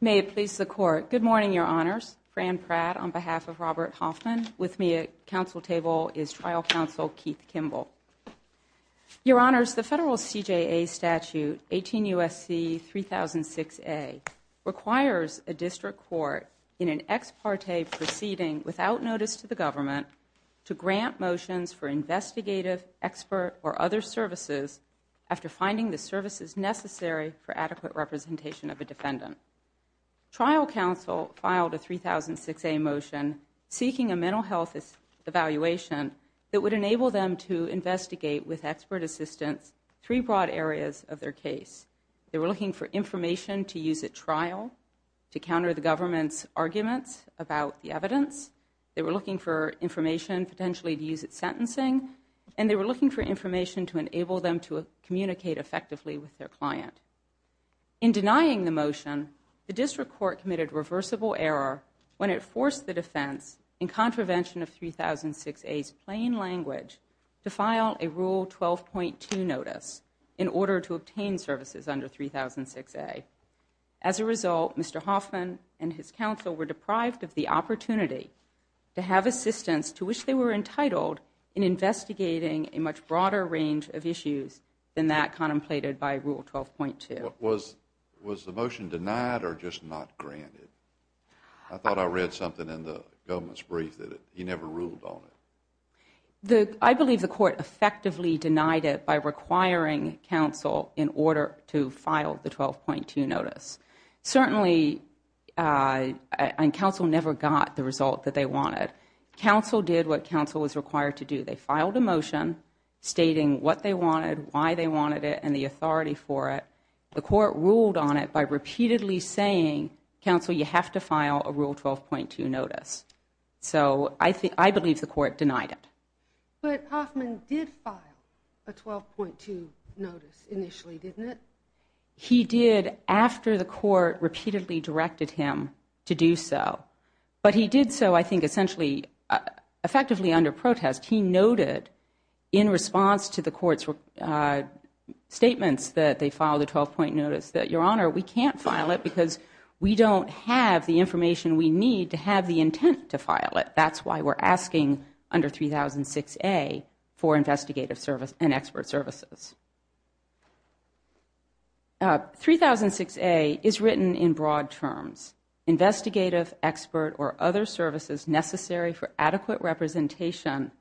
May it please the Court. Good morning, Your Honors. Fran Pratt, on behalf of Robert Hoffman. With me at Council table is Trial Counsel Keith Kimball. Your Honors, the federal CJA statute 18 U.S.C. 3006A requires a district court in an ex parte proceeding without notice to the government to grant motions for investigative, expert, or other services after finding the services necessary for adequate representation of a defendant. Trial Counsel filed a 3006A motion seeking a mental health evaluation that would enable them to investigate with expert assistance three broad areas of their case. They were looking for information to use at trial, to counter the government's arguments about the evidence. They were looking for information potentially to use at sentencing. And they were looking for information to enable them to communicate effectively with their client. In denying the motion, the district court committed reversible error when it forced the defense in contravention of 3006A's plain language to file a Rule 12.2 notice in order to obtain services under 3006A. As a result, Mr. Hoffman and his counsel were deprived of the opportunity to have assistance to which they were entitled in investigating a much broader range of issues than that contemplated by Rule 12.2. Was the motion denied or just not granted? I thought I read something in the government's brief that you never ruled on it. I believe the court effectively denied it by requiring counsel in order to file the 12.2 notice. Certainly, counsel never got the result that they wanted. Counsel did what counsel was required to do. They filed a motion stating what they wanted, why they wanted it, and the authority for it. The court ruled on it by repeatedly saying, counsel, you have to file a Rule 12.2 notice. So I believe the court denied it. But Hoffman did file a 12.2 notice initially, didn't he? He did after the court repeatedly directed him to do so. But he did so, I think, essentially, effectively under protest. He noted in response to the court's statements that they filed a 12-point notice that, Your Honor, we can't file it because we don't have the information we need to have the intent to file it. That's why we're asking under 3006A for investigative service and expert services. 3006A is written in broad terms. Investigative, expert, or other services necessary for adequate representation,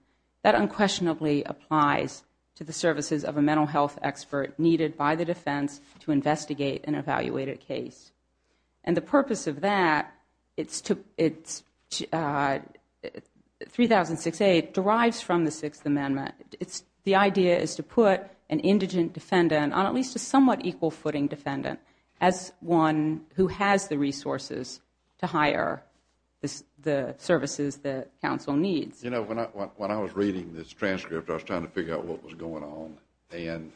that unquestionably applies to the services of a mental health expert needed by the defense to investigate an evaluated case. And the idea is to put an indigent defendant on at least a somewhat equal footing defendant as one who has the resources to hire the services that counsel needs. You know, when I was reading this transcript, I was trying to figure out what was going on. And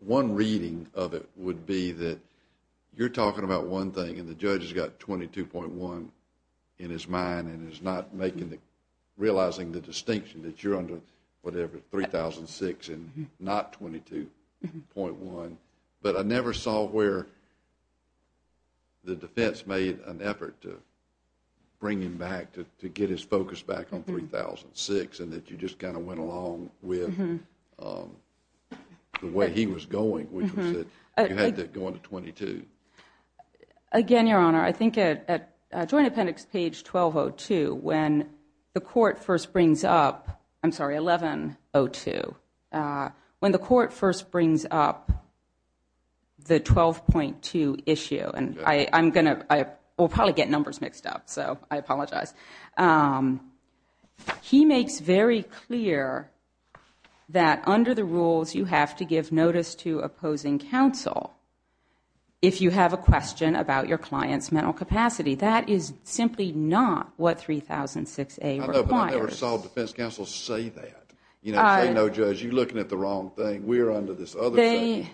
one reading of it would be that you're talking about one thing and the judge has got 22.1 in his mind and is not making the, realizing the distinction that you're under whatever, 3006 and not 22.1. But I never saw where the defense made an effort to bring him back, to get his focus back on 3006 and that you just kind of went along with the way he was going, which was that you had to go into 22. Again, Your Honor, I think at Joint Appendix page 1202, when the court first brings up the 12.2 issue, and I'm going to, I will probably get numbers mixed up, so I apologize. He makes very clear that under the rules you have to give notice to opposing counsel if you have a question about your client's mental capacity. That is simply not what 3006A requires. No, but I never saw defense counsel say that. You know, say, no judge, you're looking at the wrong thing. We're under this other thing.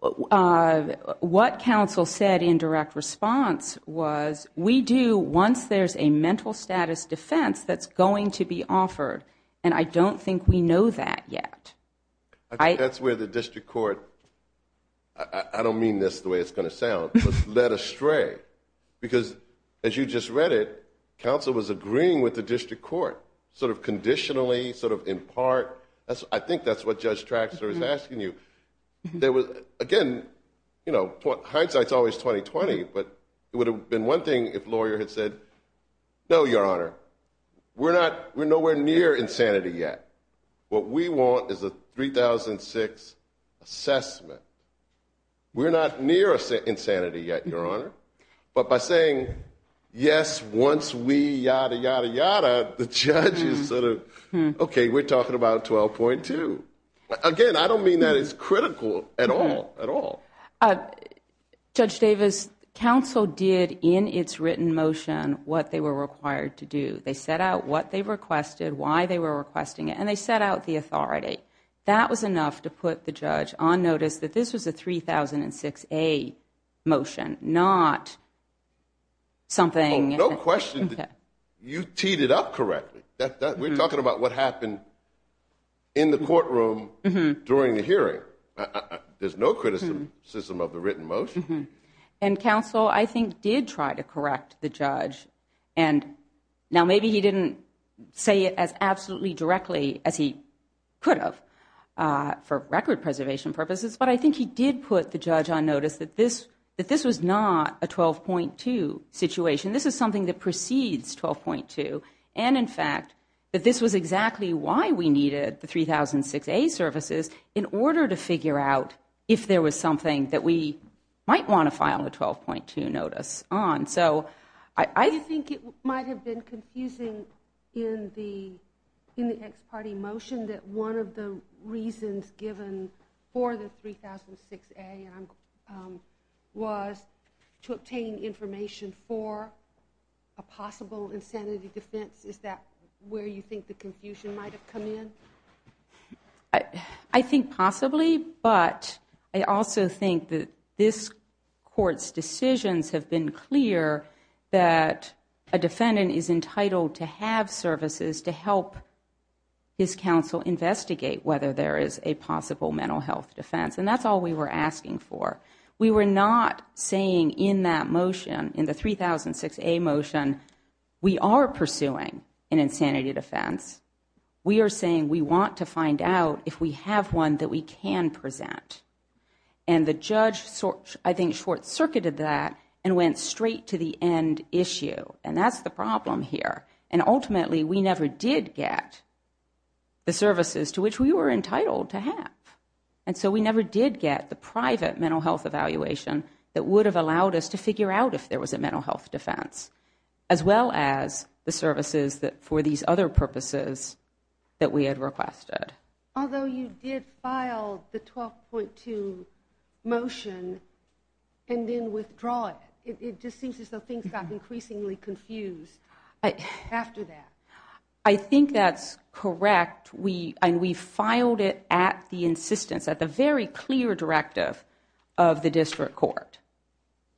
What counsel said in direct response was, we do once there's a mental status defense that's going to be offered. And I don't think we know that yet. That's where the district court, I don't mean this the way it's going to sound, led astray. Because as you just read it, counsel was agreeing with the district court, sort of conditionally, sort of in part. I think that's what Judge Traxler is asking you. There was, again, you know, hindsight's always 20-20, but it would have been one thing if lawyer had said, no, Your Honor, we're not, we're nowhere near insanity yet. What we want is a 3006 assessment. We're not near insanity yet, Your Honor. But by saying, yes, once we yada, yada, yada, the judge is sort of, okay, we're talking about 12.2. Again, I don't mean that it's critical at all, at all. Judge Davis, counsel did in its written motion what they were required to do. They set out what they requested, why they were requesting it, and they set out the authority. That was enough to put the judge on notice that this was a 3006A motion, not something... No question that you teed it up correctly. We're talking about what happened in the courtroom during the hearing. There's no criticism of the written motion. And counsel, I think, did try to correct the judge. And now maybe he didn't say it as absolutely directly as he could have for record preservation purposes, but I think he did put the judge on notice that this was not a 12.2 situation. This is something that precedes 12.2. And in fact, that this was exactly why we needed the 3006A services in order to figure out if there was something that we might want to file a 12.2 notice on. So I think it might have been confusing in the ex parte motion that one of the reasons given for the 3006A was to obtain information for a possible insanity defense. Is that where you think the confusion might have come in? I think possibly, but I also think that this court's decisions have been clear that a defendant is entitled to have services to help his counsel investigate whether there is a possible mental health defense. And that's all we were asking for. We were not saying in that motion, in the 3006A motion, we are pursuing an insanity defense. We are saying we want to find out if we have one that we can present. And the judge, I think, short circuited that and went straight to the end issue. And that's the problem here. And ultimately, we never did get the services to which we were entitled to have. And so we never did get the private mental health evaluation that would have allowed us to figure out if there was a mental health defense, as well as the services for these other purposes that we had requested. Although you did file the 12.2 motion and then withdraw it. It just seems as though things got increasingly confused after that. I think that's correct. And we filed it at the insistence, at the very clear directive of the district court.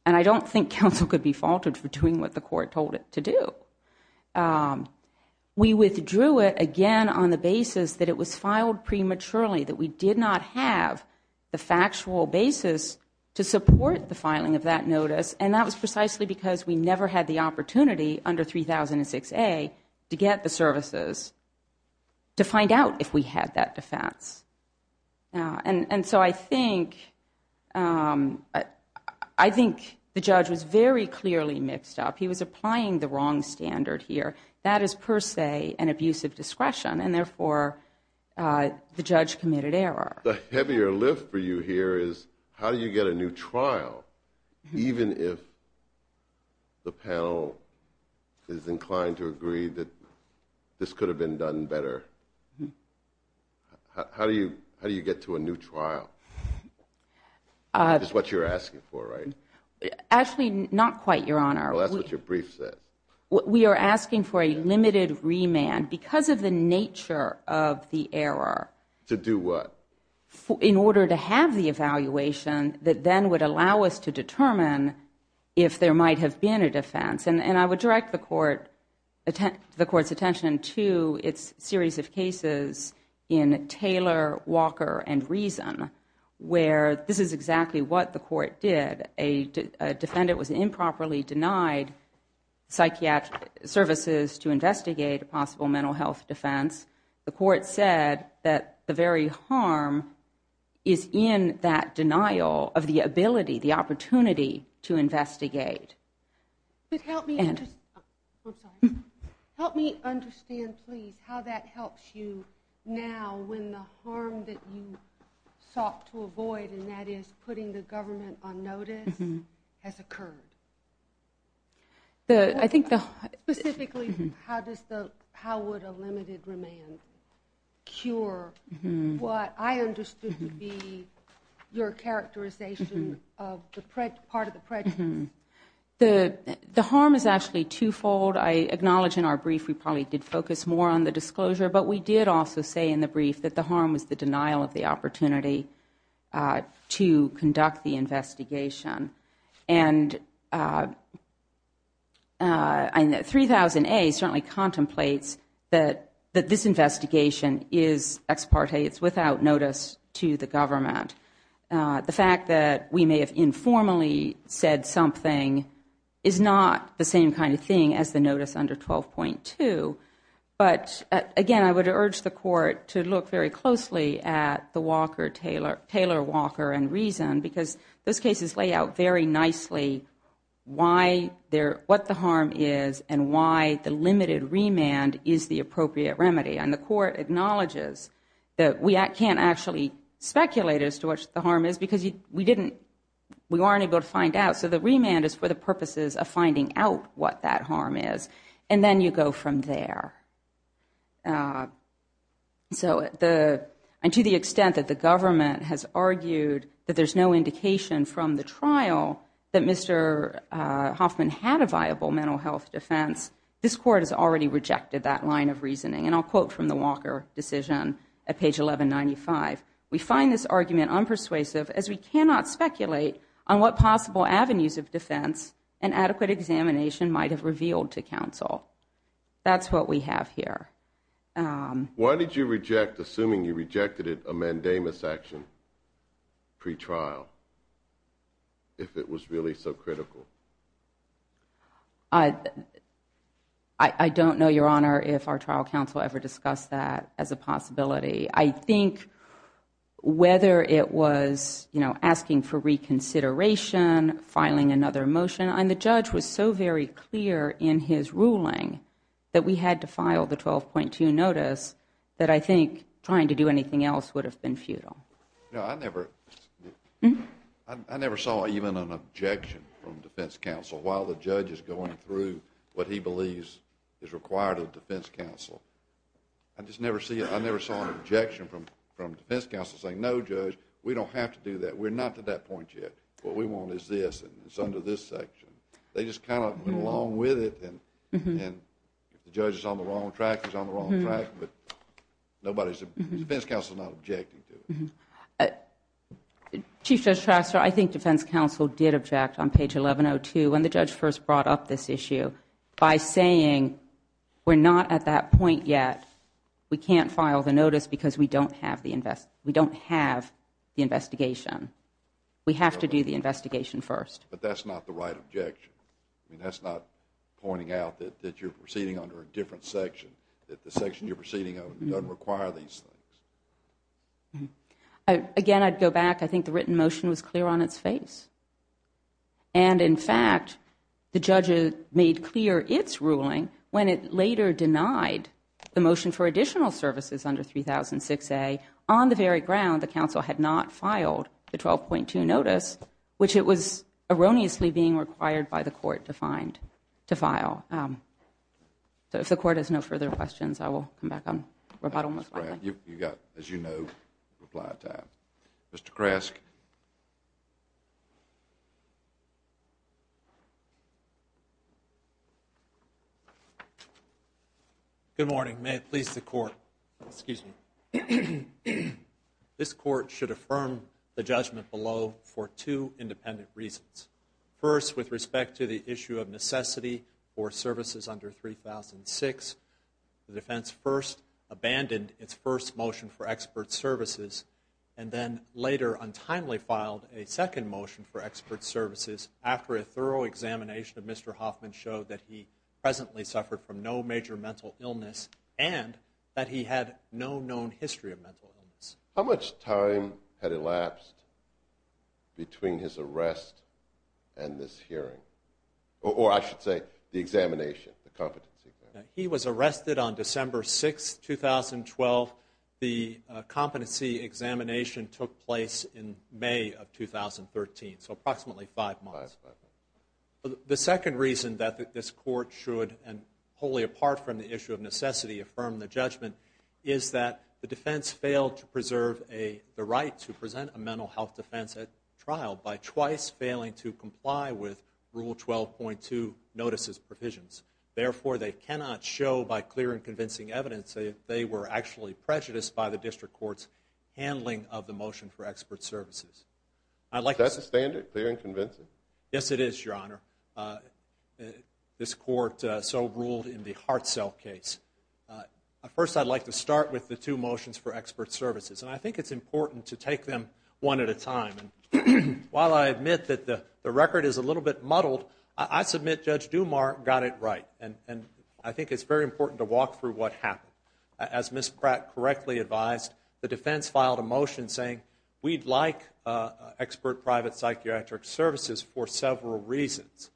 And I don't think counsel could be faulted for doing what the court told it to do. We withdrew it, again, on the basis that it was filed prematurely. That we did not have the factual basis to support the filing of that notice. And that was precisely because we never had the opportunity under 3006A to get the services to find out if we had that defense. And so I think the judge was very clearly mixed up. He was applying the wrong standard here. That is, per se, an abuse of discretion. And therefore, the judge committed error. The heavier lift for you here is, how do you get a new trial, even if the panel is inclined to agree that this could have been done better? How do you get to a new trial? That's what you're asking for, right? Actually, not quite, Your Honor. Well, that's what your brief said. We are asking for a limited remand because of the nature of the error. To do what? In order to have the evaluation that then would allow us to determine if there might have been a defense. And I would direct the Court's attention to its series of cases in Taylor, Walker, and Reason, where this is exactly what the Court did. A defendant was improperly denied psychiatric services to investigate a possible mental health defense. The Court said that the very harm is in that case. Help me understand, please, how that helps you now when the harm that you sought to avoid, and that is putting the government on notice, has occurred? Specifically, how would a limited remand cure what I understood to be your characterization of part of the prejudice? The harm is actually twofold. I acknowledge in our brief we probably did focus more on the disclosure, but we did also say in the brief that the harm was the denial of the opportunity to conduct the investigation. And 3000A certainly contemplates that this investigation is ex parte. It's without notice to the government. The fact that we may have informally said something is not the same kind of thing as the notice under 12.2. But again, I would urge the Court to look very closely at the Walker, Taylor, Walker, and Reason, because those cases lay out very nicely what the harm is and why the limited remand is the appropriate remedy. The Court acknowledges that we can't actually speculate as to what the harm is, because we weren't able to find out. So the remand is for the purposes of finding out what that harm is, and then you go from there. To the extent that the government has argued that there's no indication from the trial that Mr. Hoffman had a viable mental health defense, this Court has already rejected that line of reasoning. And I'll quote from the Walker decision at page 1195, we find this argument unpersuasive as we cannot speculate on what possible avenues of defense an adequate examination might have revealed to counsel. That's what we have here. Why did you reject, assuming you rejected it, a mandamus action pre-trial, if it was really so critical? I don't know, Your Honor, if our trial counsel ever discussed that as a possibility. I think whether it was asking for reconsideration, filing another motion, and the judge was so very clear in his ruling that we had to file the 12.2 notice, that I think trying to do anything else would have been futile. No, I never saw even an objection from defense counsel while the judge is going through what he believes is required of defense counsel. I just never saw an objection from defense counsel saying, no, Judge, we don't have to do that. We're not to that point yet. What we want is this and it's under this section. They just kind of went along with it, and if the judge is on the wrong track, he's on Chief Judge Shaster, I think defense counsel did object on page 1102 when the judge first brought up this issue by saying, we're not at that point yet. We can't file the notice because we don't have the investigation. We have to do the investigation first. But that's not the right objection. I mean, that's not pointing out that you're proceeding under a different section, that the section you're proceeding on doesn't require these things. Again, I'd go back. I think the written motion was clear on its face. And, in fact, the judge made clear its ruling when it later denied the motion for additional services under 3006A. On the very ground, the counsel had not filed the 12.2 notice, which it was erroneously being required by the court to file. So, if the court has no further questions, I will come back on rebuttal most likely. That's fine. You've got, as you know, reply time. Mr. Kresk? Good morning. May it please the Court, this Court should affirm the judgment below for two independent reasons. First, with respect to the issue of necessity for services under 3006, the defense first abandoned its first motion for expert services, and then later untimely filed a second motion for expert services after a thorough examination of Mr. Hoffman showed that he presently suffered from no major mental illness and that he had no known history of mental illness. How much time had elapsed between his arrest and this hearing? Or, I should say, the examination, the competency exam. He was arrested on December 6, 2012. The competency examination took place in May of 2013, so approximately five months. The second reason that this Court should, and wholly apart from the issue of necessity, affirm the judgment is that the defense failed to preserve the right to present a mental health defense at trial by twice failing to comply with Rule 12.2 notices provisions. Therefore they cannot show by clear and convincing evidence that they were actually prejudiced by the District Court's handling of the motion for expert services. Is that the standard, clear and convincing? Yes, it is, Your Honor. This Court so ruled in the Hartzell case. First, I'd like to start with the two motions for expert services, and I think it's important to take them one at a time. While I admit that the record is a little bit muddled, I submit Judge Dumas got it right, and I think it's very important to walk through what happened. As Ms. Pratt correctly advised, the defense filed a motion saying, we'd like expert private psychiatric services for several reasons,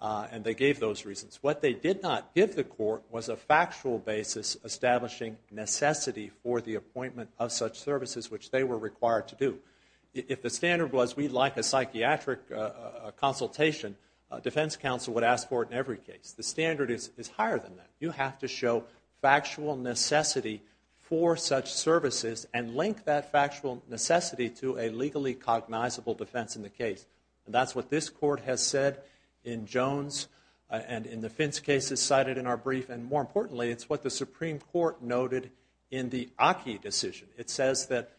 and they gave those reasons. What they did not give the Court was a factual basis establishing necessity for the appointment of such services which they were required to do. If the standard was, we'd like a psychiatric consultation, defense counsel would ask for it in every case. The standard is higher than that. You have to show factual necessity for such services and link that factual necessity to a legally cognizable defense in the case. That's what this Court has said in Jones and in the Fintz cases cited in our brief, and more importantly, it's what the Supreme Court noted in the Aki decision. It says that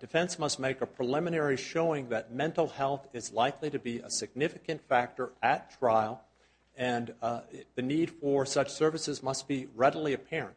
defense must make a preliminary showing that mental health is likely to be a significant factor at trial, and the need for such services must be readily apparent.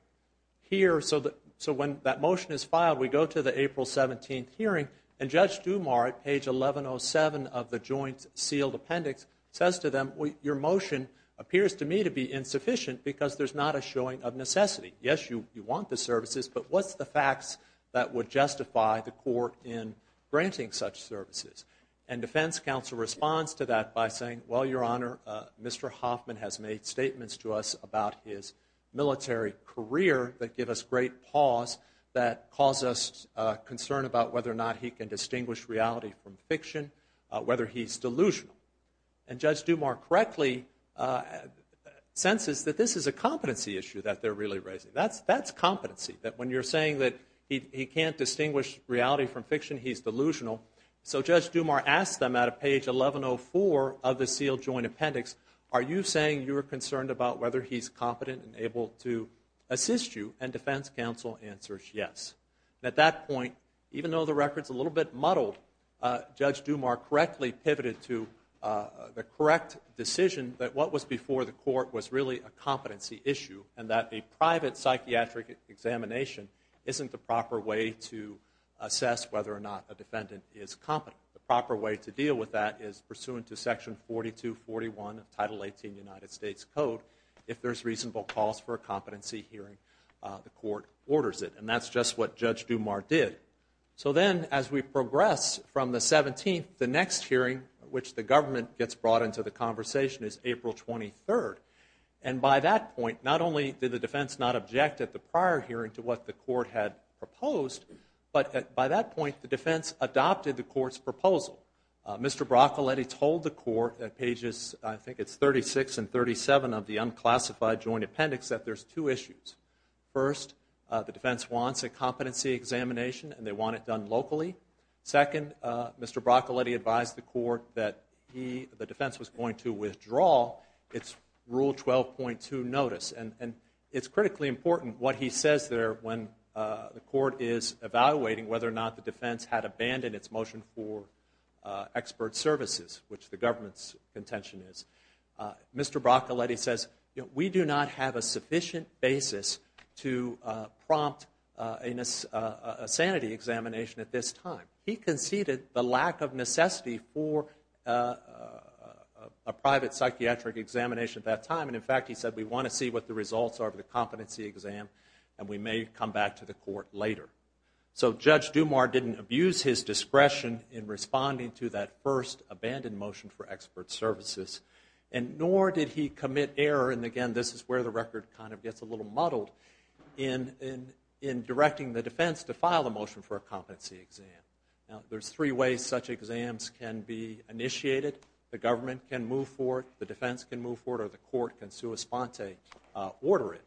Here, so when that motion is filed, we go to the April 17th hearing, and Judge Dumas at page 1107 of the Joint Sealed Appendix says to them, your motion appears to me to be insufficient because there's not a showing of necessity. Yes, you want the services, but what's the facts that would justify the Court in granting such services? And defense counsel responds to that by saying, well, Your Honor, Mr. Hoffman has made statements to us about his military career that give us great pause, that cause us concern about whether or not he can distinguish reality from fiction, whether he's delusional. And Judge Dumas correctly senses that this is a competency issue that they're really raising. That's competency, that when you're saying that he can't distinguish reality from fiction, he's delusional. So Judge Dumas asks them at page 1104 of the Sealed Joint Appendix, are you saying you're concerned about whether he's competent and able to assist you? And defense counsel answers yes. At that point, even though the record's a little bit muddled, Judge Dumas correctly pivoted to the correct decision that what was before the Court was really a competency issue, and that a private psychiatric examination isn't the proper way to assess whether or not a defendant is competent. The proper way to deal with that is pursuant to Section 4241 of Title 18 of the United States Code. If there's reasonable cause for a competency hearing, the Court orders it. And that's just what Judge Dumas did. So then, as we progress from the 17th, the next hearing, which the government gets brought into the conversation, is April 23rd. And by that point, not only did the defense not object at the prior hearing to what the Court had proposed, but by that point, the defense adopted the Court's proposal. Mr. Broccoletti told the Court at pages, I think it's 36 and 37 of the Unclassified Joint Appendix, that there's two issues. First, the defense wants a competency examination, and they want it done locally. Second, Mr. Broccoletti advised the Court that the defense was going to withdraw its Rule 12.2 notice. And it's critically important what he says there when the Court is evaluating whether or not the defense had abandoned its motion for expert services, which the government's contention is. Mr. Broccoletti says, we do not have a sufficient basis to prompt a sanity examination at this time. He conceded the lack of necessity for a private psychiatric examination at that time. And in fact, he said, we want to see what the results are of the competency exam, and we may come back to the Court later. So Judge Dumas didn't abuse his discretion in responding to that first abandoned motion for expert services, and nor did he commit error, and again, this is where the record kind of gets a little muddled, in directing the defense to file a motion for a competency exam. Now, there's three ways such exams can be initiated. The government can move forward, the defense can move forward, or the Court can sua sponte order it.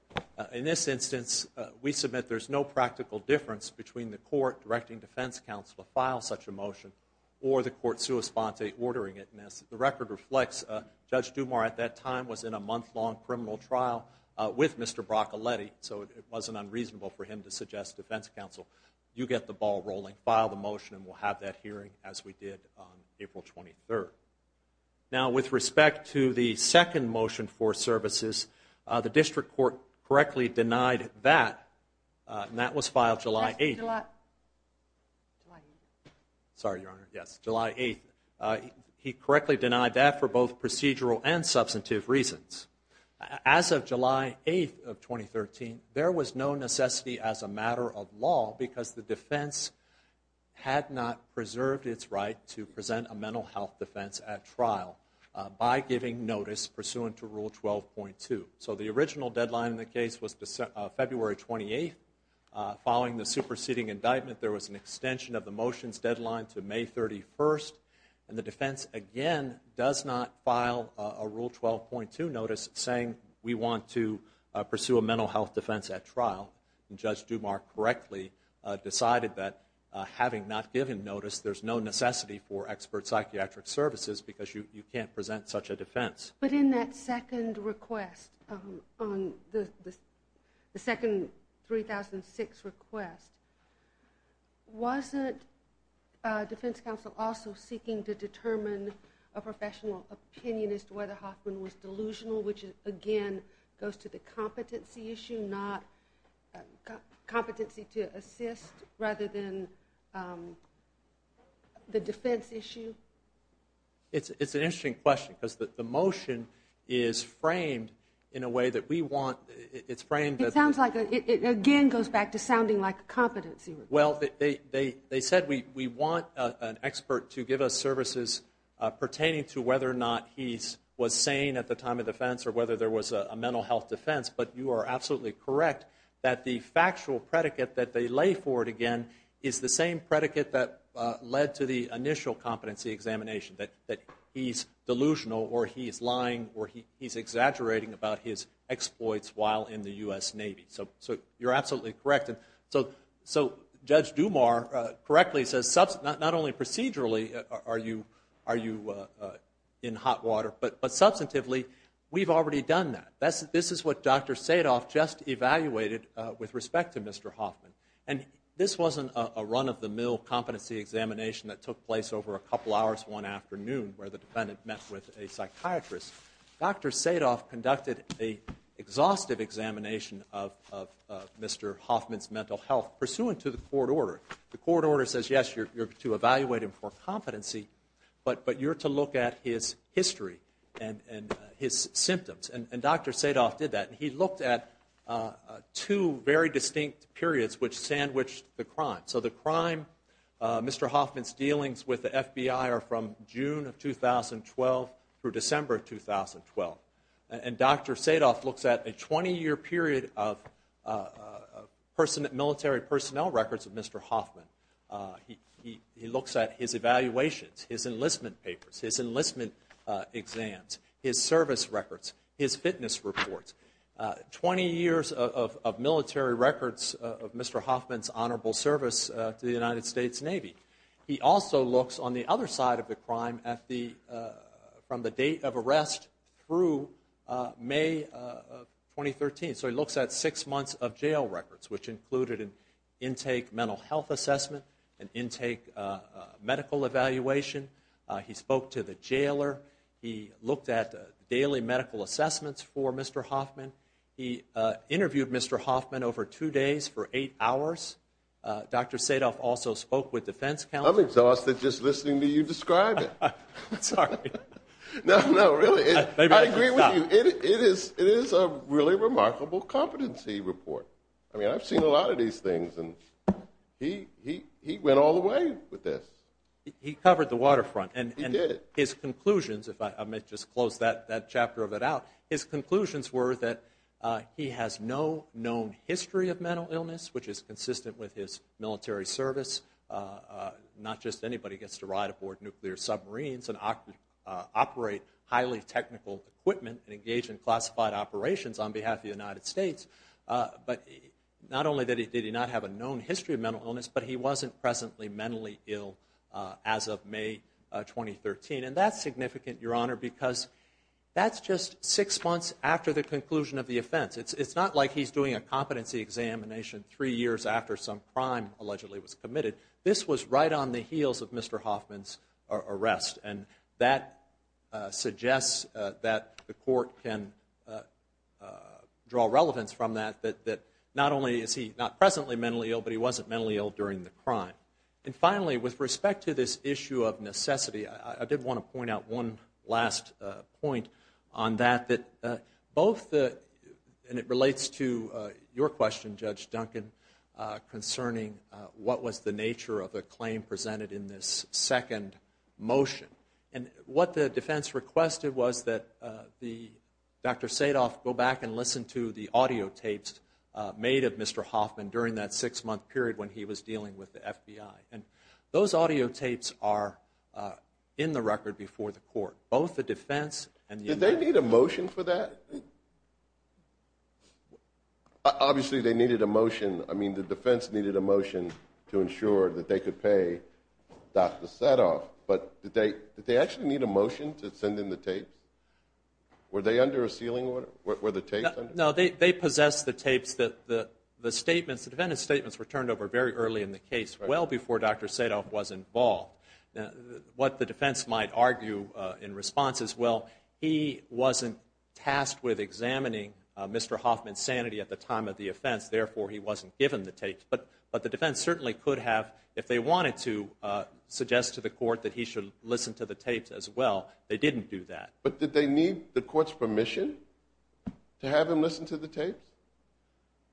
In this instance, we submit there's no practical difference between the Court directing defense counsel to file such a motion, or the Court sua sponte ordering it. And as the record reflects, Judge Dumas at that time was in a month-long criminal trial with Mr. Broccoletti, so it wasn't unreasonable for him to suggest defense counsel, you get the ball rolling, file the motion, and we'll have that hearing as we did on April 23. Now, with respect to the second motion for services, the District Court correctly denied that, and that was filed July 8th. Sorry, Your Honor, yes, July 8th. He correctly denied that for both procedural and substantive reasons. As of July 8th of 2013, there was no necessity as a matter of law, because the defense had not preserved its right to present a mental health defense at trial by giving notice pursuant to Rule 12.2. So the original deadline in the case was February 28th. Following the superseding indictment, there was an extension of the motion's deadline to May 31st, and the defense again does not file a Rule 12.2 notice saying we want to pursue a mental health defense at trial. And Judge Dumas correctly decided that having not given notice, there's no necessity for expert psychiatric services because you can't present such a defense. But in that second request, the second 3006 request, wasn't defense counsel also seeking to determine a professional opinionist whether Hoffman was delusional, which again goes to the competency issue, not competency to assess rather than the defense issue? It's an interesting question, because the motion is framed in a way that we want, it's framed. It sounds like, it again goes back to sounding like a competency. Well, they said we want an expert to give us services pertaining to whether or not he was sane at the time of defense or whether there was a mental health defense, but you are absolutely correct that the factual predicate that they lay forward again is the same predicate that led to the initial competency examination, that he's delusional or he's lying or he's exaggerating about his exploits while in the U.S. Navy. So you're absolutely correct. So Judge Dumas correctly says not only procedurally are you in hot water, but substantively, we've already done that. This is what Dr. Sadoff just evaluated with respect to Mr. Hoffman. And this wasn't a run-of-the-mill competency examination that took place over a couple hours one afternoon where the defendant met with a psychiatrist. Dr. Sadoff conducted a exhaustive examination of Mr. Hoffman's mental health pursuant to the court order. The court order says, yes, you're to evaluate him for competency, but you're to look at his history and his symptoms. And Dr. Sadoff did that. He looked at two very distinct periods which sandwiched the crime. So the crime, Mr. Hoffman's dealings with the FBI are from June of 2012 through December of 2012. And Dr. Sadoff looks at a 20-year period of military personnel records of Mr. Hoffman. He looks at his evaluations, his enlistment papers, his enlistment exams, his service records, his fitness reports, 20 years of military records of Mr. Hoffman's honorable service to the United States Navy. He also looks on the other side of the crime from the date of arrest through May of 2013. So he looks at six months of jail records, which included an intake mental health assessment, an intake medical evaluation. He spoke to the jailer. He looked at daily medical assessments for Mr. Hoffman. He interviewed Mr. Hoffman over two days for eight hours. Dr. Sadoff also spoke with defense counsel. I'm exhausted just listening to you describe it. Sorry. No, no, really. I agree with you. It is a really remarkable competency report. I mean, he's done a lot of these things, and he went all the way with this. He covered the waterfront, and his conclusions, if I may just close that chapter of it out, his conclusions were that he has no known history of mental illness, which is consistent with his military service. Not just anybody gets to ride aboard nuclear submarines and operate highly technical equipment and engage in classified operations on behalf of the military. Not only did he not have a known history of mental illness, but he wasn't presently mentally ill as of May 2013. And that's significant, Your Honor, because that's just six months after the conclusion of the offense. It's not like he's doing a competency examination three years after some crime allegedly was committed. This was right on the heels of Mr. Hoffman's arrest, and that suggests that the court can draw relevance from that that not only is he not presently mentally ill, but he wasn't mentally ill during the crime. And finally, with respect to this issue of necessity, I did want to point out one last point on that, that both the, and it relates to your question, Judge Duncan, concerning what was the nature of the claim presented in this second motion. And what the defense requested was that Dr. Sadoff go back and listen to the audio tapes made of Mr. Hoffman during that six-month period when he was dealing with the FBI. And those audio tapes are in the record before the court. Both the defense and the... Did they need a motion for that? Obviously, they needed a motion. I mean, the defense needed a motion to ensure that they could pay Dr. Sadoff. But did they actually need a motion to send in the tapes? Were they under a sealing order? Were the tapes under a sealing order? No, they possessed the tapes. The statements, the defendant's statements were turned over very early in the case, well before Dr. Sadoff was involved. What the defense might argue in response is, well, he wasn't tasked with examining Mr. Hoffman's sanity at the time of the offense, therefore he wasn't given the tapes. But the defense certainly could have, if they wanted to, suggest to the court that he should listen to the tapes as well. They didn't do that. But did they need the court's permission to have him listen to the tapes?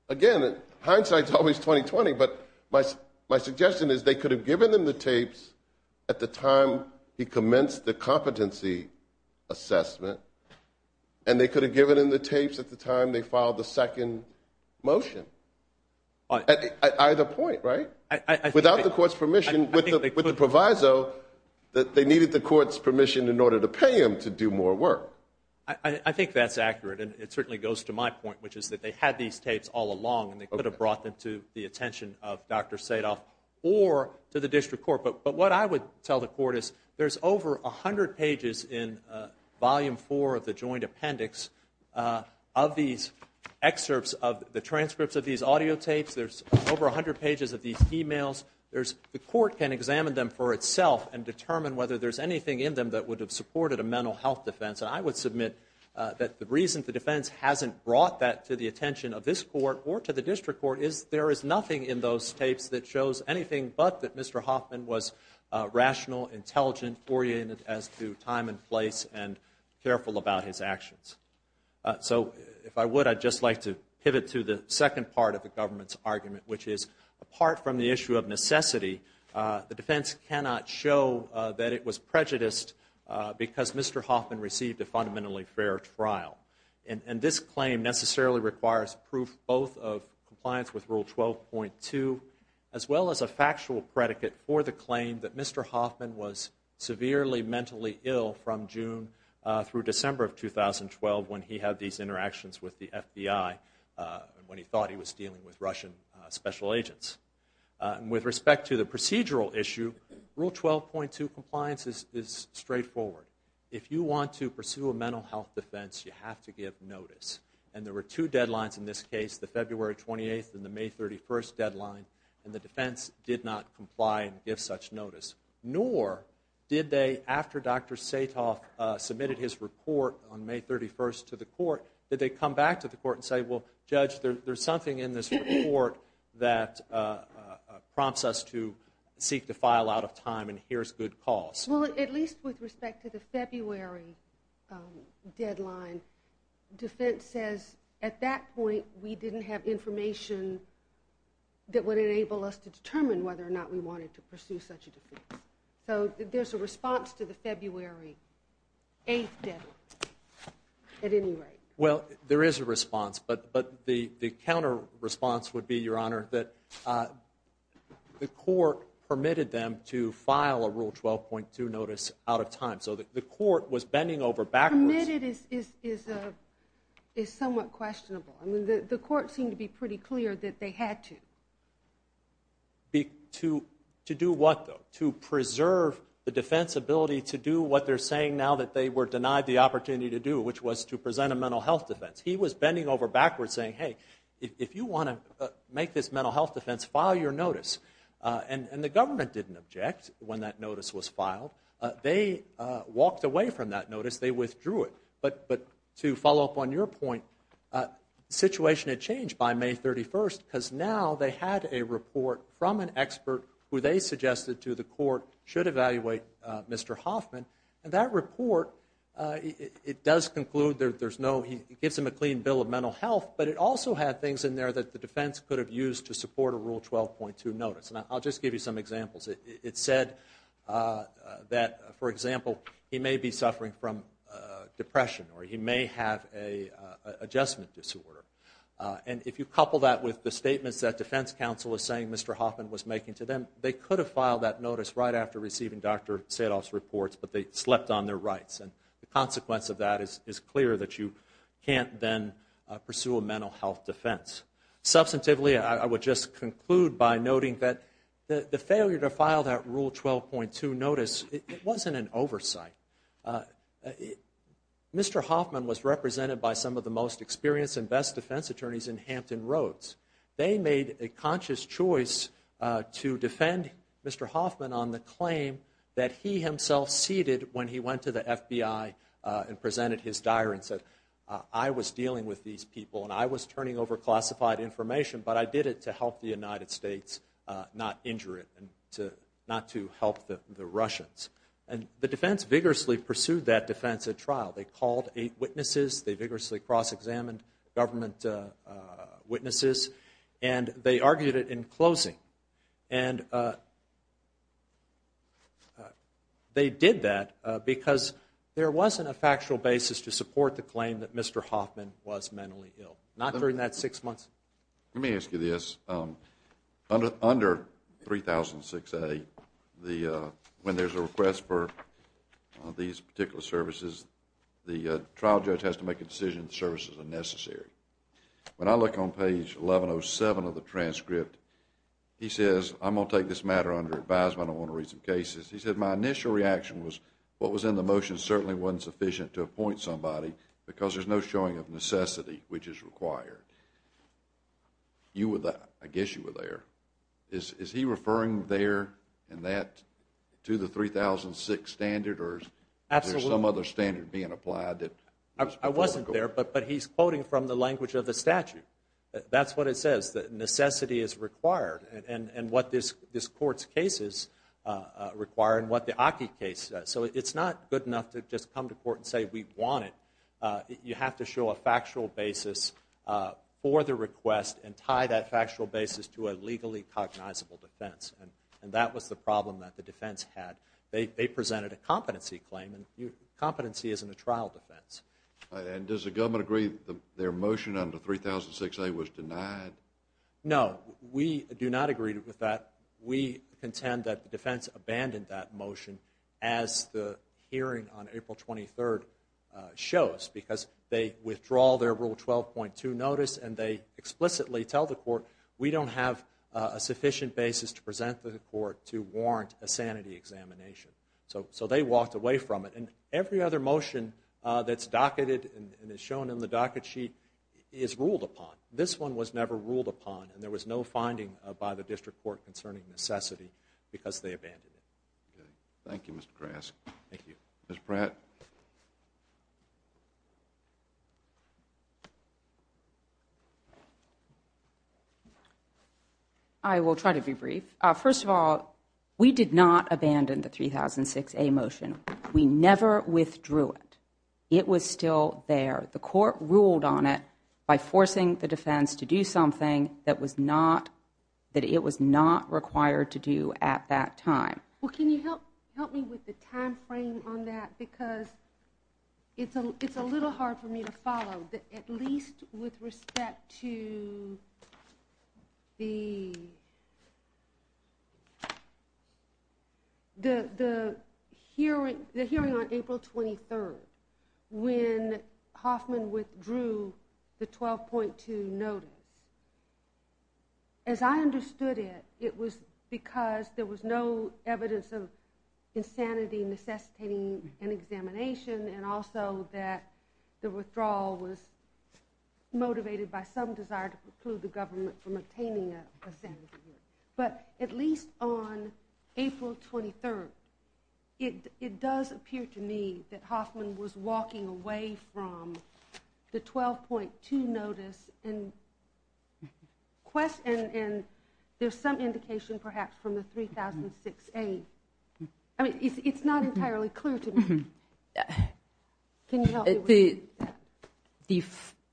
Again, hindsight's always 20-20, but my suggestion is they could have given him the tapes at the time he commenced the competency assessment, and they could have given him the tapes at the time they filed the second motion. At either point, right? Without the court's permission, with the proviso that they needed the court's permission in order to pay him to do more work. I think that's accurate, and it certainly goes to my point, which is that they had these tapes all along, and they could have brought them to the attention of Dr. Sadoff or to the district court. But what I would tell the court is, there's over 100 pages in Volume 4 of the Joint Appendix of these excerpts of the transcripts of these audio tapes. There's over 100 pages of these emails. The court can examine them for itself and determine whether there's anything in them that would have supported a mental health defense. I would submit that the reason the defense hasn't brought that to the attention of this court or to the district court is there is nothing in those tapes that shows anything but that Mr. Hoffman was rational, intelligent, oriented as to time and place, and careful about his actions. So, if I would, I'd just like to pivot to the second part of the government's argument, which is, apart from the issue of necessity, the defense cannot show that it was prejudiced because Mr. Hoffman received a fundamentally fair trial. And this claim necessarily requires proof both of compliance with Rule 12.2, as well as a factual predicate for the claim that Mr. Hoffman was severely mentally ill from June through December of 2012 when he had these interactions with the FBI, when he thought he was dealing with Russian special agents. And with respect to the procedural issue, Rule 12.2 compliance is straightforward. If you want to pursue a mental health defense, you have to give notice. And there were two deadlines in this case, the February 28th and the May 31st deadline, and the defense did not comply and give such notice. Nor did they, after Dr. Satoff submitted his report on May 31st to the court, did they come back to the court and say, well, Judge, there's something in this report that prompts us to seek to file out of time and here's good cause. Well, at least with respect to the February deadline, defense says at that point we didn't have information that would enable us to determine whether or not we wanted to pursue such a defense. So there's a response to the February 8th deadline at any rate. Well, there is a response, but the counter response would be, Your Honor, that the court permitted them to file a Rule 12.2 notice out of time. So the court was bending over backwards. Permitted is somewhat questionable. The court seemed to be pretty clear that they had to. To do what, though? To preserve the defense's ability to do what they're saying now that they were denied the opportunity to do, which was to present a mental health defense. He was bending over backwards saying, hey, if you want to make this mental health defense, file your notice. And the government didn't object when that notice was filed. They walked away from that notice. They withdrew it. But to follow up on your point, the situation had changed by May 31st because now they had a report from an expert who they suggested to the court should evaluate Mr. Hoffman. And that report, it does conclude there's no, it gives him a clean bill of mental health, but it also had things in there that the defense could have used to support a Rule 12.2 notice. And I'll just give you some examples. It said that, for example, he may be suffering from depression or he may have an adjustment disorder. And if you couple that with the statements that defense counsel is saying Mr. Hoffman was making to them, they could have filed that notice right after receiving Dr. Sadov's reports, but they slept on their rights. And the consequence of that is clear that you can't then pursue a mental health defense. Substantively, I would just conclude by noting that the failure to file that Rule 12.2 notice, it wasn't an oversight. Mr. Hoffman was represented by some of the most experienced and best defense attorneys in Hampton Roads. They made a conscious choice to defend Mr. Hoffman on the claim that he himself ceded when he went to the FBI and presented his diary and said, I was turning over classified information, but I did it to help the United States not injure it and not to help the Russians. And the defense vigorously pursued that defense at trial. They called eight witnesses. They vigorously cross-examined government witnesses. And they argued it in closing. And they did that because there wasn't a factual basis to support the defense. Let me ask you this. Under 3006A, when there's a request for these particular services, the trial judge has to make a decision if the services are necessary. When I look on page 1107 of the transcript, he says, I'm going to take this matter under advisement. I want to read some cases. He said, my initial reaction was what was in the motion certainly wasn't sufficient to appoint somebody because there's no showing of necessity which is required. You were there. I guess you were there. Is he referring there and that to the 3006 standard? Or is there some other standard being applied that was before the court? I wasn't there. But he's quoting from the language of the statute. That's what it says, that necessity is required. And what this court's cases require and what the Aki case. So it's not good enough to just come to court and say we want it. You have to show a factual basis for the request and tie that factual basis to a legally cognizable defense. And that was the problem that the defense had. They presented a competency claim. And competency isn't a trial defense. And does the government agree that their motion under 3006A was denied? No. We do not agree with that. We contend that the defense abandoned that motion as the hearing on April 23rd shows because they withdraw their Rule 12.2 notice and they explicitly tell the court we don't have a sufficient basis to present to the court to warrant a sanity examination. So they walked away from it. And every other motion that's docketed and is shown in the docket sheet is ruled upon. This one was never ruled upon and there was no finding by the district court concerning necessity because they abandoned it. Thank you Mr. Grask. Ms. Pratt. I will try to be brief. First of all, we did not abandon the 3006A motion. We never withdrew it. It was still there. The court ruled on it by forcing the defense to do something that it was not required to do at that time. Well, can you help me with the time frame on that because it's a little hard for me to follow, at least with respect to the hearing on April 23rd when Hoffman withdrew the 12.2 notice. As I understood it, it was because there was no evidence of insanity necessitating an examination and also that the withdrawal was motivated by some desire to preclude the government from obtaining a sanity. But at least on April 23rd, it does appear to me that Hoffman was walking away from the 12.2 notice and there's some indication perhaps from the 3006A. It's not entirely clear to me. Can you help me with that?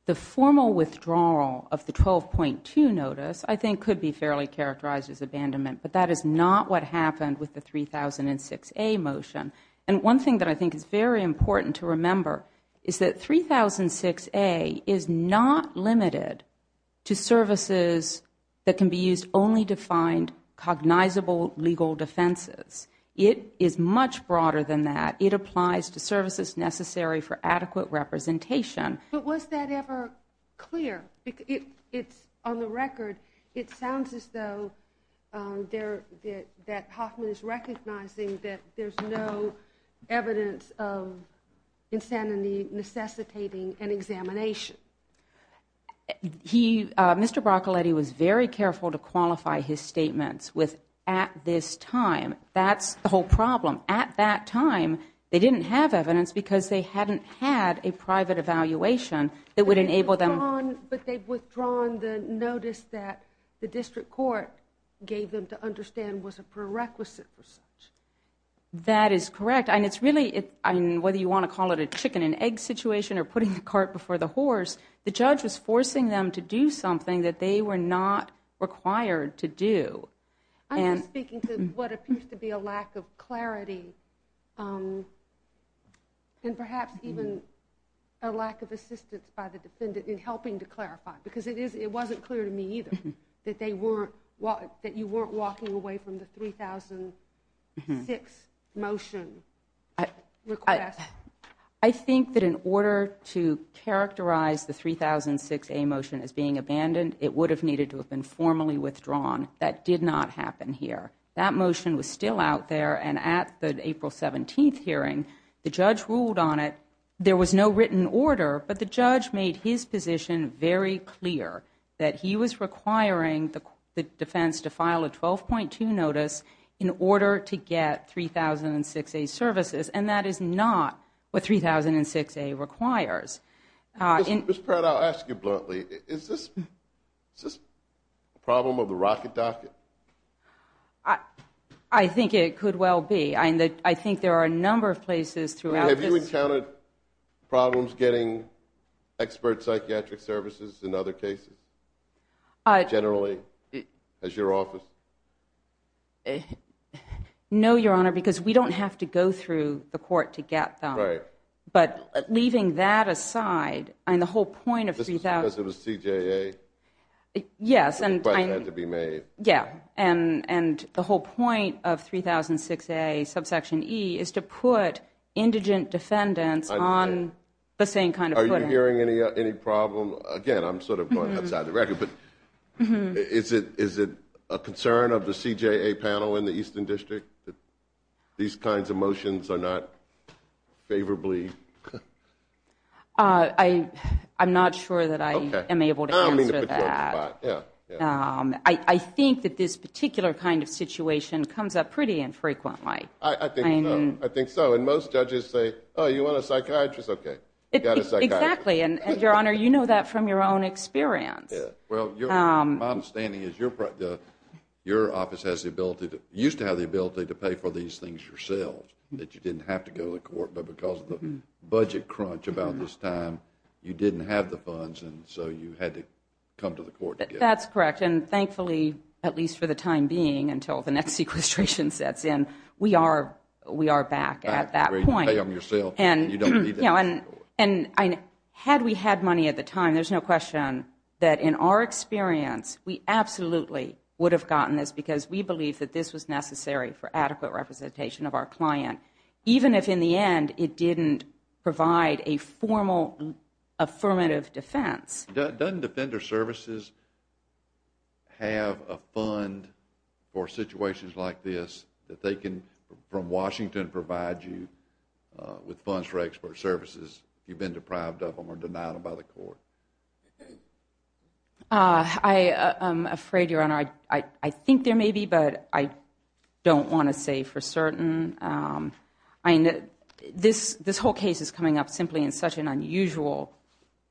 The formal withdrawal of the 12.2 notice I think could be fairly characterized as abandonment but that is not what happened with the 3006A motion. One thing that I think is very important to remember is that 3006A is not limited to services that can be used only to find cognizable legal defenses. It is much broader than that. It applies to services necessary for adequate representation. But was that ever clear? On the record, it sounds as though that Hoffman is recognizing that there's no evidence of insanity necessitating an examination. Mr. Broccoletti was very careful to qualify his statements with at this time. That's the whole problem. At that time, they didn't have evidence because they hadn't had a private evaluation that would enable them. But they've withdrawn the notice that the district court gave them to understand was a prerequisite for such. That is correct. Whether you want to call it a chicken and egg situation or putting the cart before the horse, the judge was forcing them to do something that they were not required to do. I'm just speaking to what appears to be a lack of clarity and perhaps even a lack of assistance by the defendant in helping to clarify because it wasn't clear to me either that you weren't walking away from the 3006 motion request. I think that in order to characterize the 3006A motion as being abandoned, it would have needed to have been formally withdrawn. That did not happen here. That motion was still out there and at the April 17th hearing, the judge ruled on it. There was no written order, but the judge made his position very clear that he was requiring the defense to file a 12.2 notice in order to get 3006A services and that is not what 3006A requires. Ms. Pratt, I'll ask you bluntly. Is this a problem of the rocket docket? I think it could well be. I think there are a number of places throughout this. Have you encountered problems getting expert psychiatric services in other cases, generally, as your office? No, Your Honor, because we don't have to go through the court to get them. Right. But leaving that aside, the whole point of 3006A is to put indigent defendants on the same kind of footing. Are you hearing any problem? Again, I'm sort of going outside the record, but is it a concern of the CJA panel in the Eastern District that these kinds of motions are not favorably? I'm not sure that I am able to answer that. I think that this particular kind of situation comes up pretty infrequently. I think so. I think so. And most judges say, oh, you want a psychiatrist? Okay, you got a psychiatrist. Exactly. And Your Honor, you know that from your own experience. Well, my understanding is your office used to have the ability to pay for these things yourself, that you didn't have to go to court, but because of the budget crunch about this time, you didn't have the funds and so you had to come to the court to get them. That's correct. And thankfully, at least for the time being, until the next sequestration sets in, we are back at that point. You pay them yourself and you don't need to go to court. And had we had money at the time, there's no question that in our experience, we absolutely would have gotten this because we believe that this was necessary for adequate representation of our client, even if in the end it didn't provide a formal affirmative defense. Doesn't Defender Services have a fund for situations like this that they can, from Washington, provide you with funds for expert services if you've been deprived of them or denied them by the court? I am afraid, Your Honor, I think there may be, but I don't want to say for certain. I mean, this whole case is coming up simply in such an unusual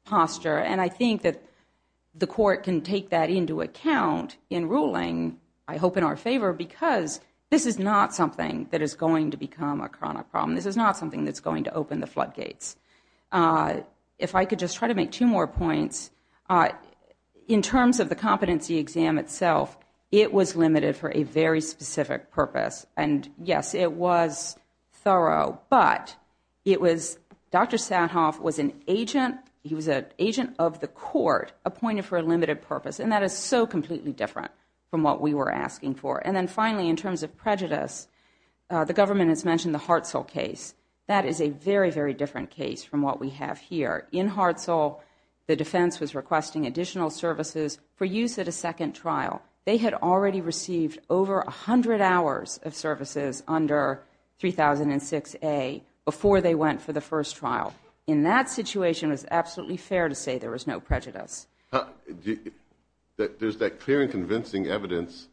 posture. And I think that the court can take that into account in ruling, I hope in our favor, because this is not something that is going to become a chronic problem. This is not something that's going to open the floodgates. If I could just try to make two more points. In terms of the competency exam itself, it was limited for a very specific purpose. And yes, it was thorough. But Dr. Sadhoff was an agent. He was an agent of the court appointed for a limited purpose. And that is so completely different from what we were asking for. And then finally, in terms of prejudice, the government has mentioned the Hartzell case. That is a very, very different case from what we have here. In Hartzell, the defense was requesting additional services for use at a second trial. They had already received over 100 hours of services under 3006A before they went for the first trial. In that situation, it was absolutely fair to say there was no prejudice. There's that clear and convincing evidence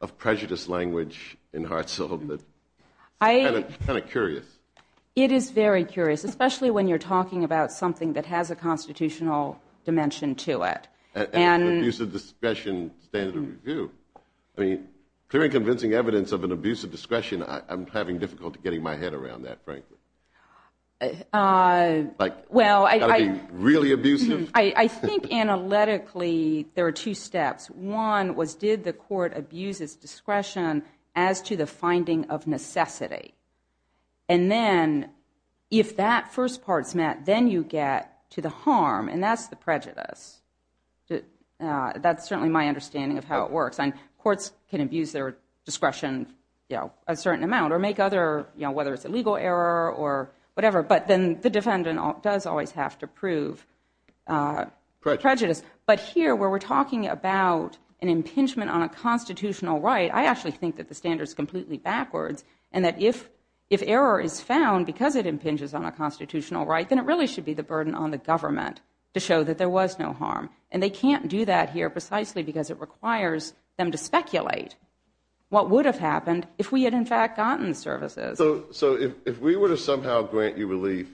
of prejudice language in Hartzell that's kind of curious. It is very curious, especially when you're talking about something that has a constitutional dimension to it. And it's an abuse of discretion standard of review. I mean, clear and convincing evidence of an abuse of discretion, I'm having difficulty getting my head around that, frankly. Well, I think analytically, there are two steps. One was, did the court abuse its discretion as to the finding of necessity? And then, if that first part's met, then you get to the harm. And that's the prejudice. That's certainly my understanding of how it works. And courts can abuse their discretion a certain amount or make other, whether it's a legal error or whatever. But then the defendant does always have to prove prejudice. But here, where we're talking about an impingement on a constitutional right, I actually think that the standard's completely backwards. And that if error is found because it impinges on a constitutional right, then it really should be the burden on the government to show that there was no harm. And they can't do that here precisely because it requires them to speculate what would have happened if we had, in fact, gotten the services. So if we were to somehow grant you relief,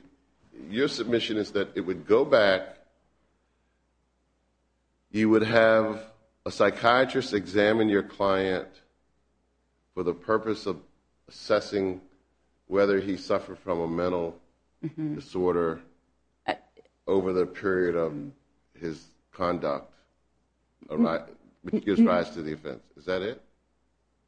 your submission is that it would go back. You would have a psychiatrist examine your client for the purpose of assessing whether he suffered from a mental disorder over the period of his conduct, which gives rise to the offense. Is that it?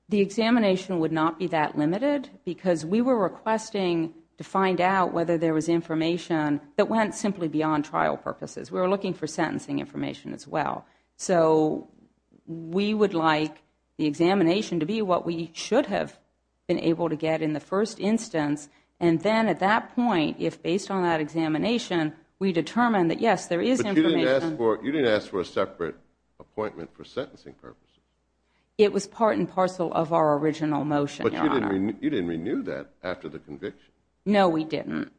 The examination would not be that limited because we were requesting to find out whether there was information that went simply beyond trial purposes. We were looking for sentencing information as well. So we would like the examination to be what we should have been able to get in the first instance. And then at that point, if based on that examination, we determine that, yes, there is information. You didn't ask for a separate appointment for sentencing purposes. It was part and parcel of our original motion, Your Honor. You didn't renew that after the conviction. No, we didn't.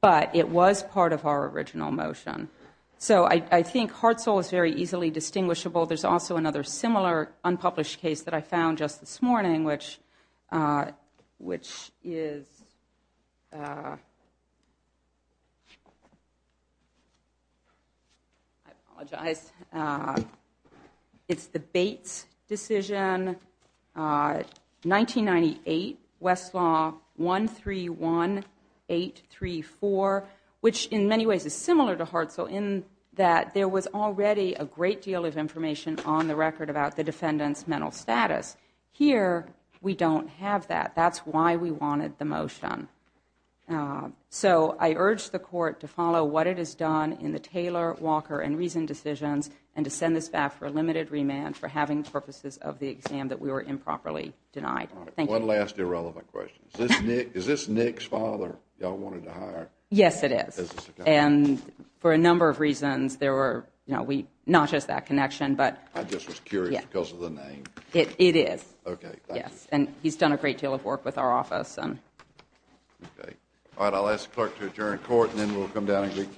But it was part of our original motion. So I think Hartzell is very easily distinguishable. There's also another similar unpublished case that I found just this morning, which is the Bates decision, 1998, Westlaw 131834, which in many ways is similar to Hartzell in that there was already a great deal of information on the record about the defendant's mental status. Here, we don't have that. That's why we wanted the motion. So I urge the Court to follow what it has done in the Taylor, Walker, and Reason decisions and to send this back for a limited remand for having purposes of the exam that we were improperly denied. Thank you. One last irrelevant question. Is this Nick's father y'all wanted to hire? Yes, it is. And for a number of reasons, there were, you know, we not just that connection, but I just was curious because of the name. It is. Okay. Yes. And he's done a great deal of work with our office. Okay. All right. I'll ask the Clerk to adjourn court and then we'll come down and get counsel.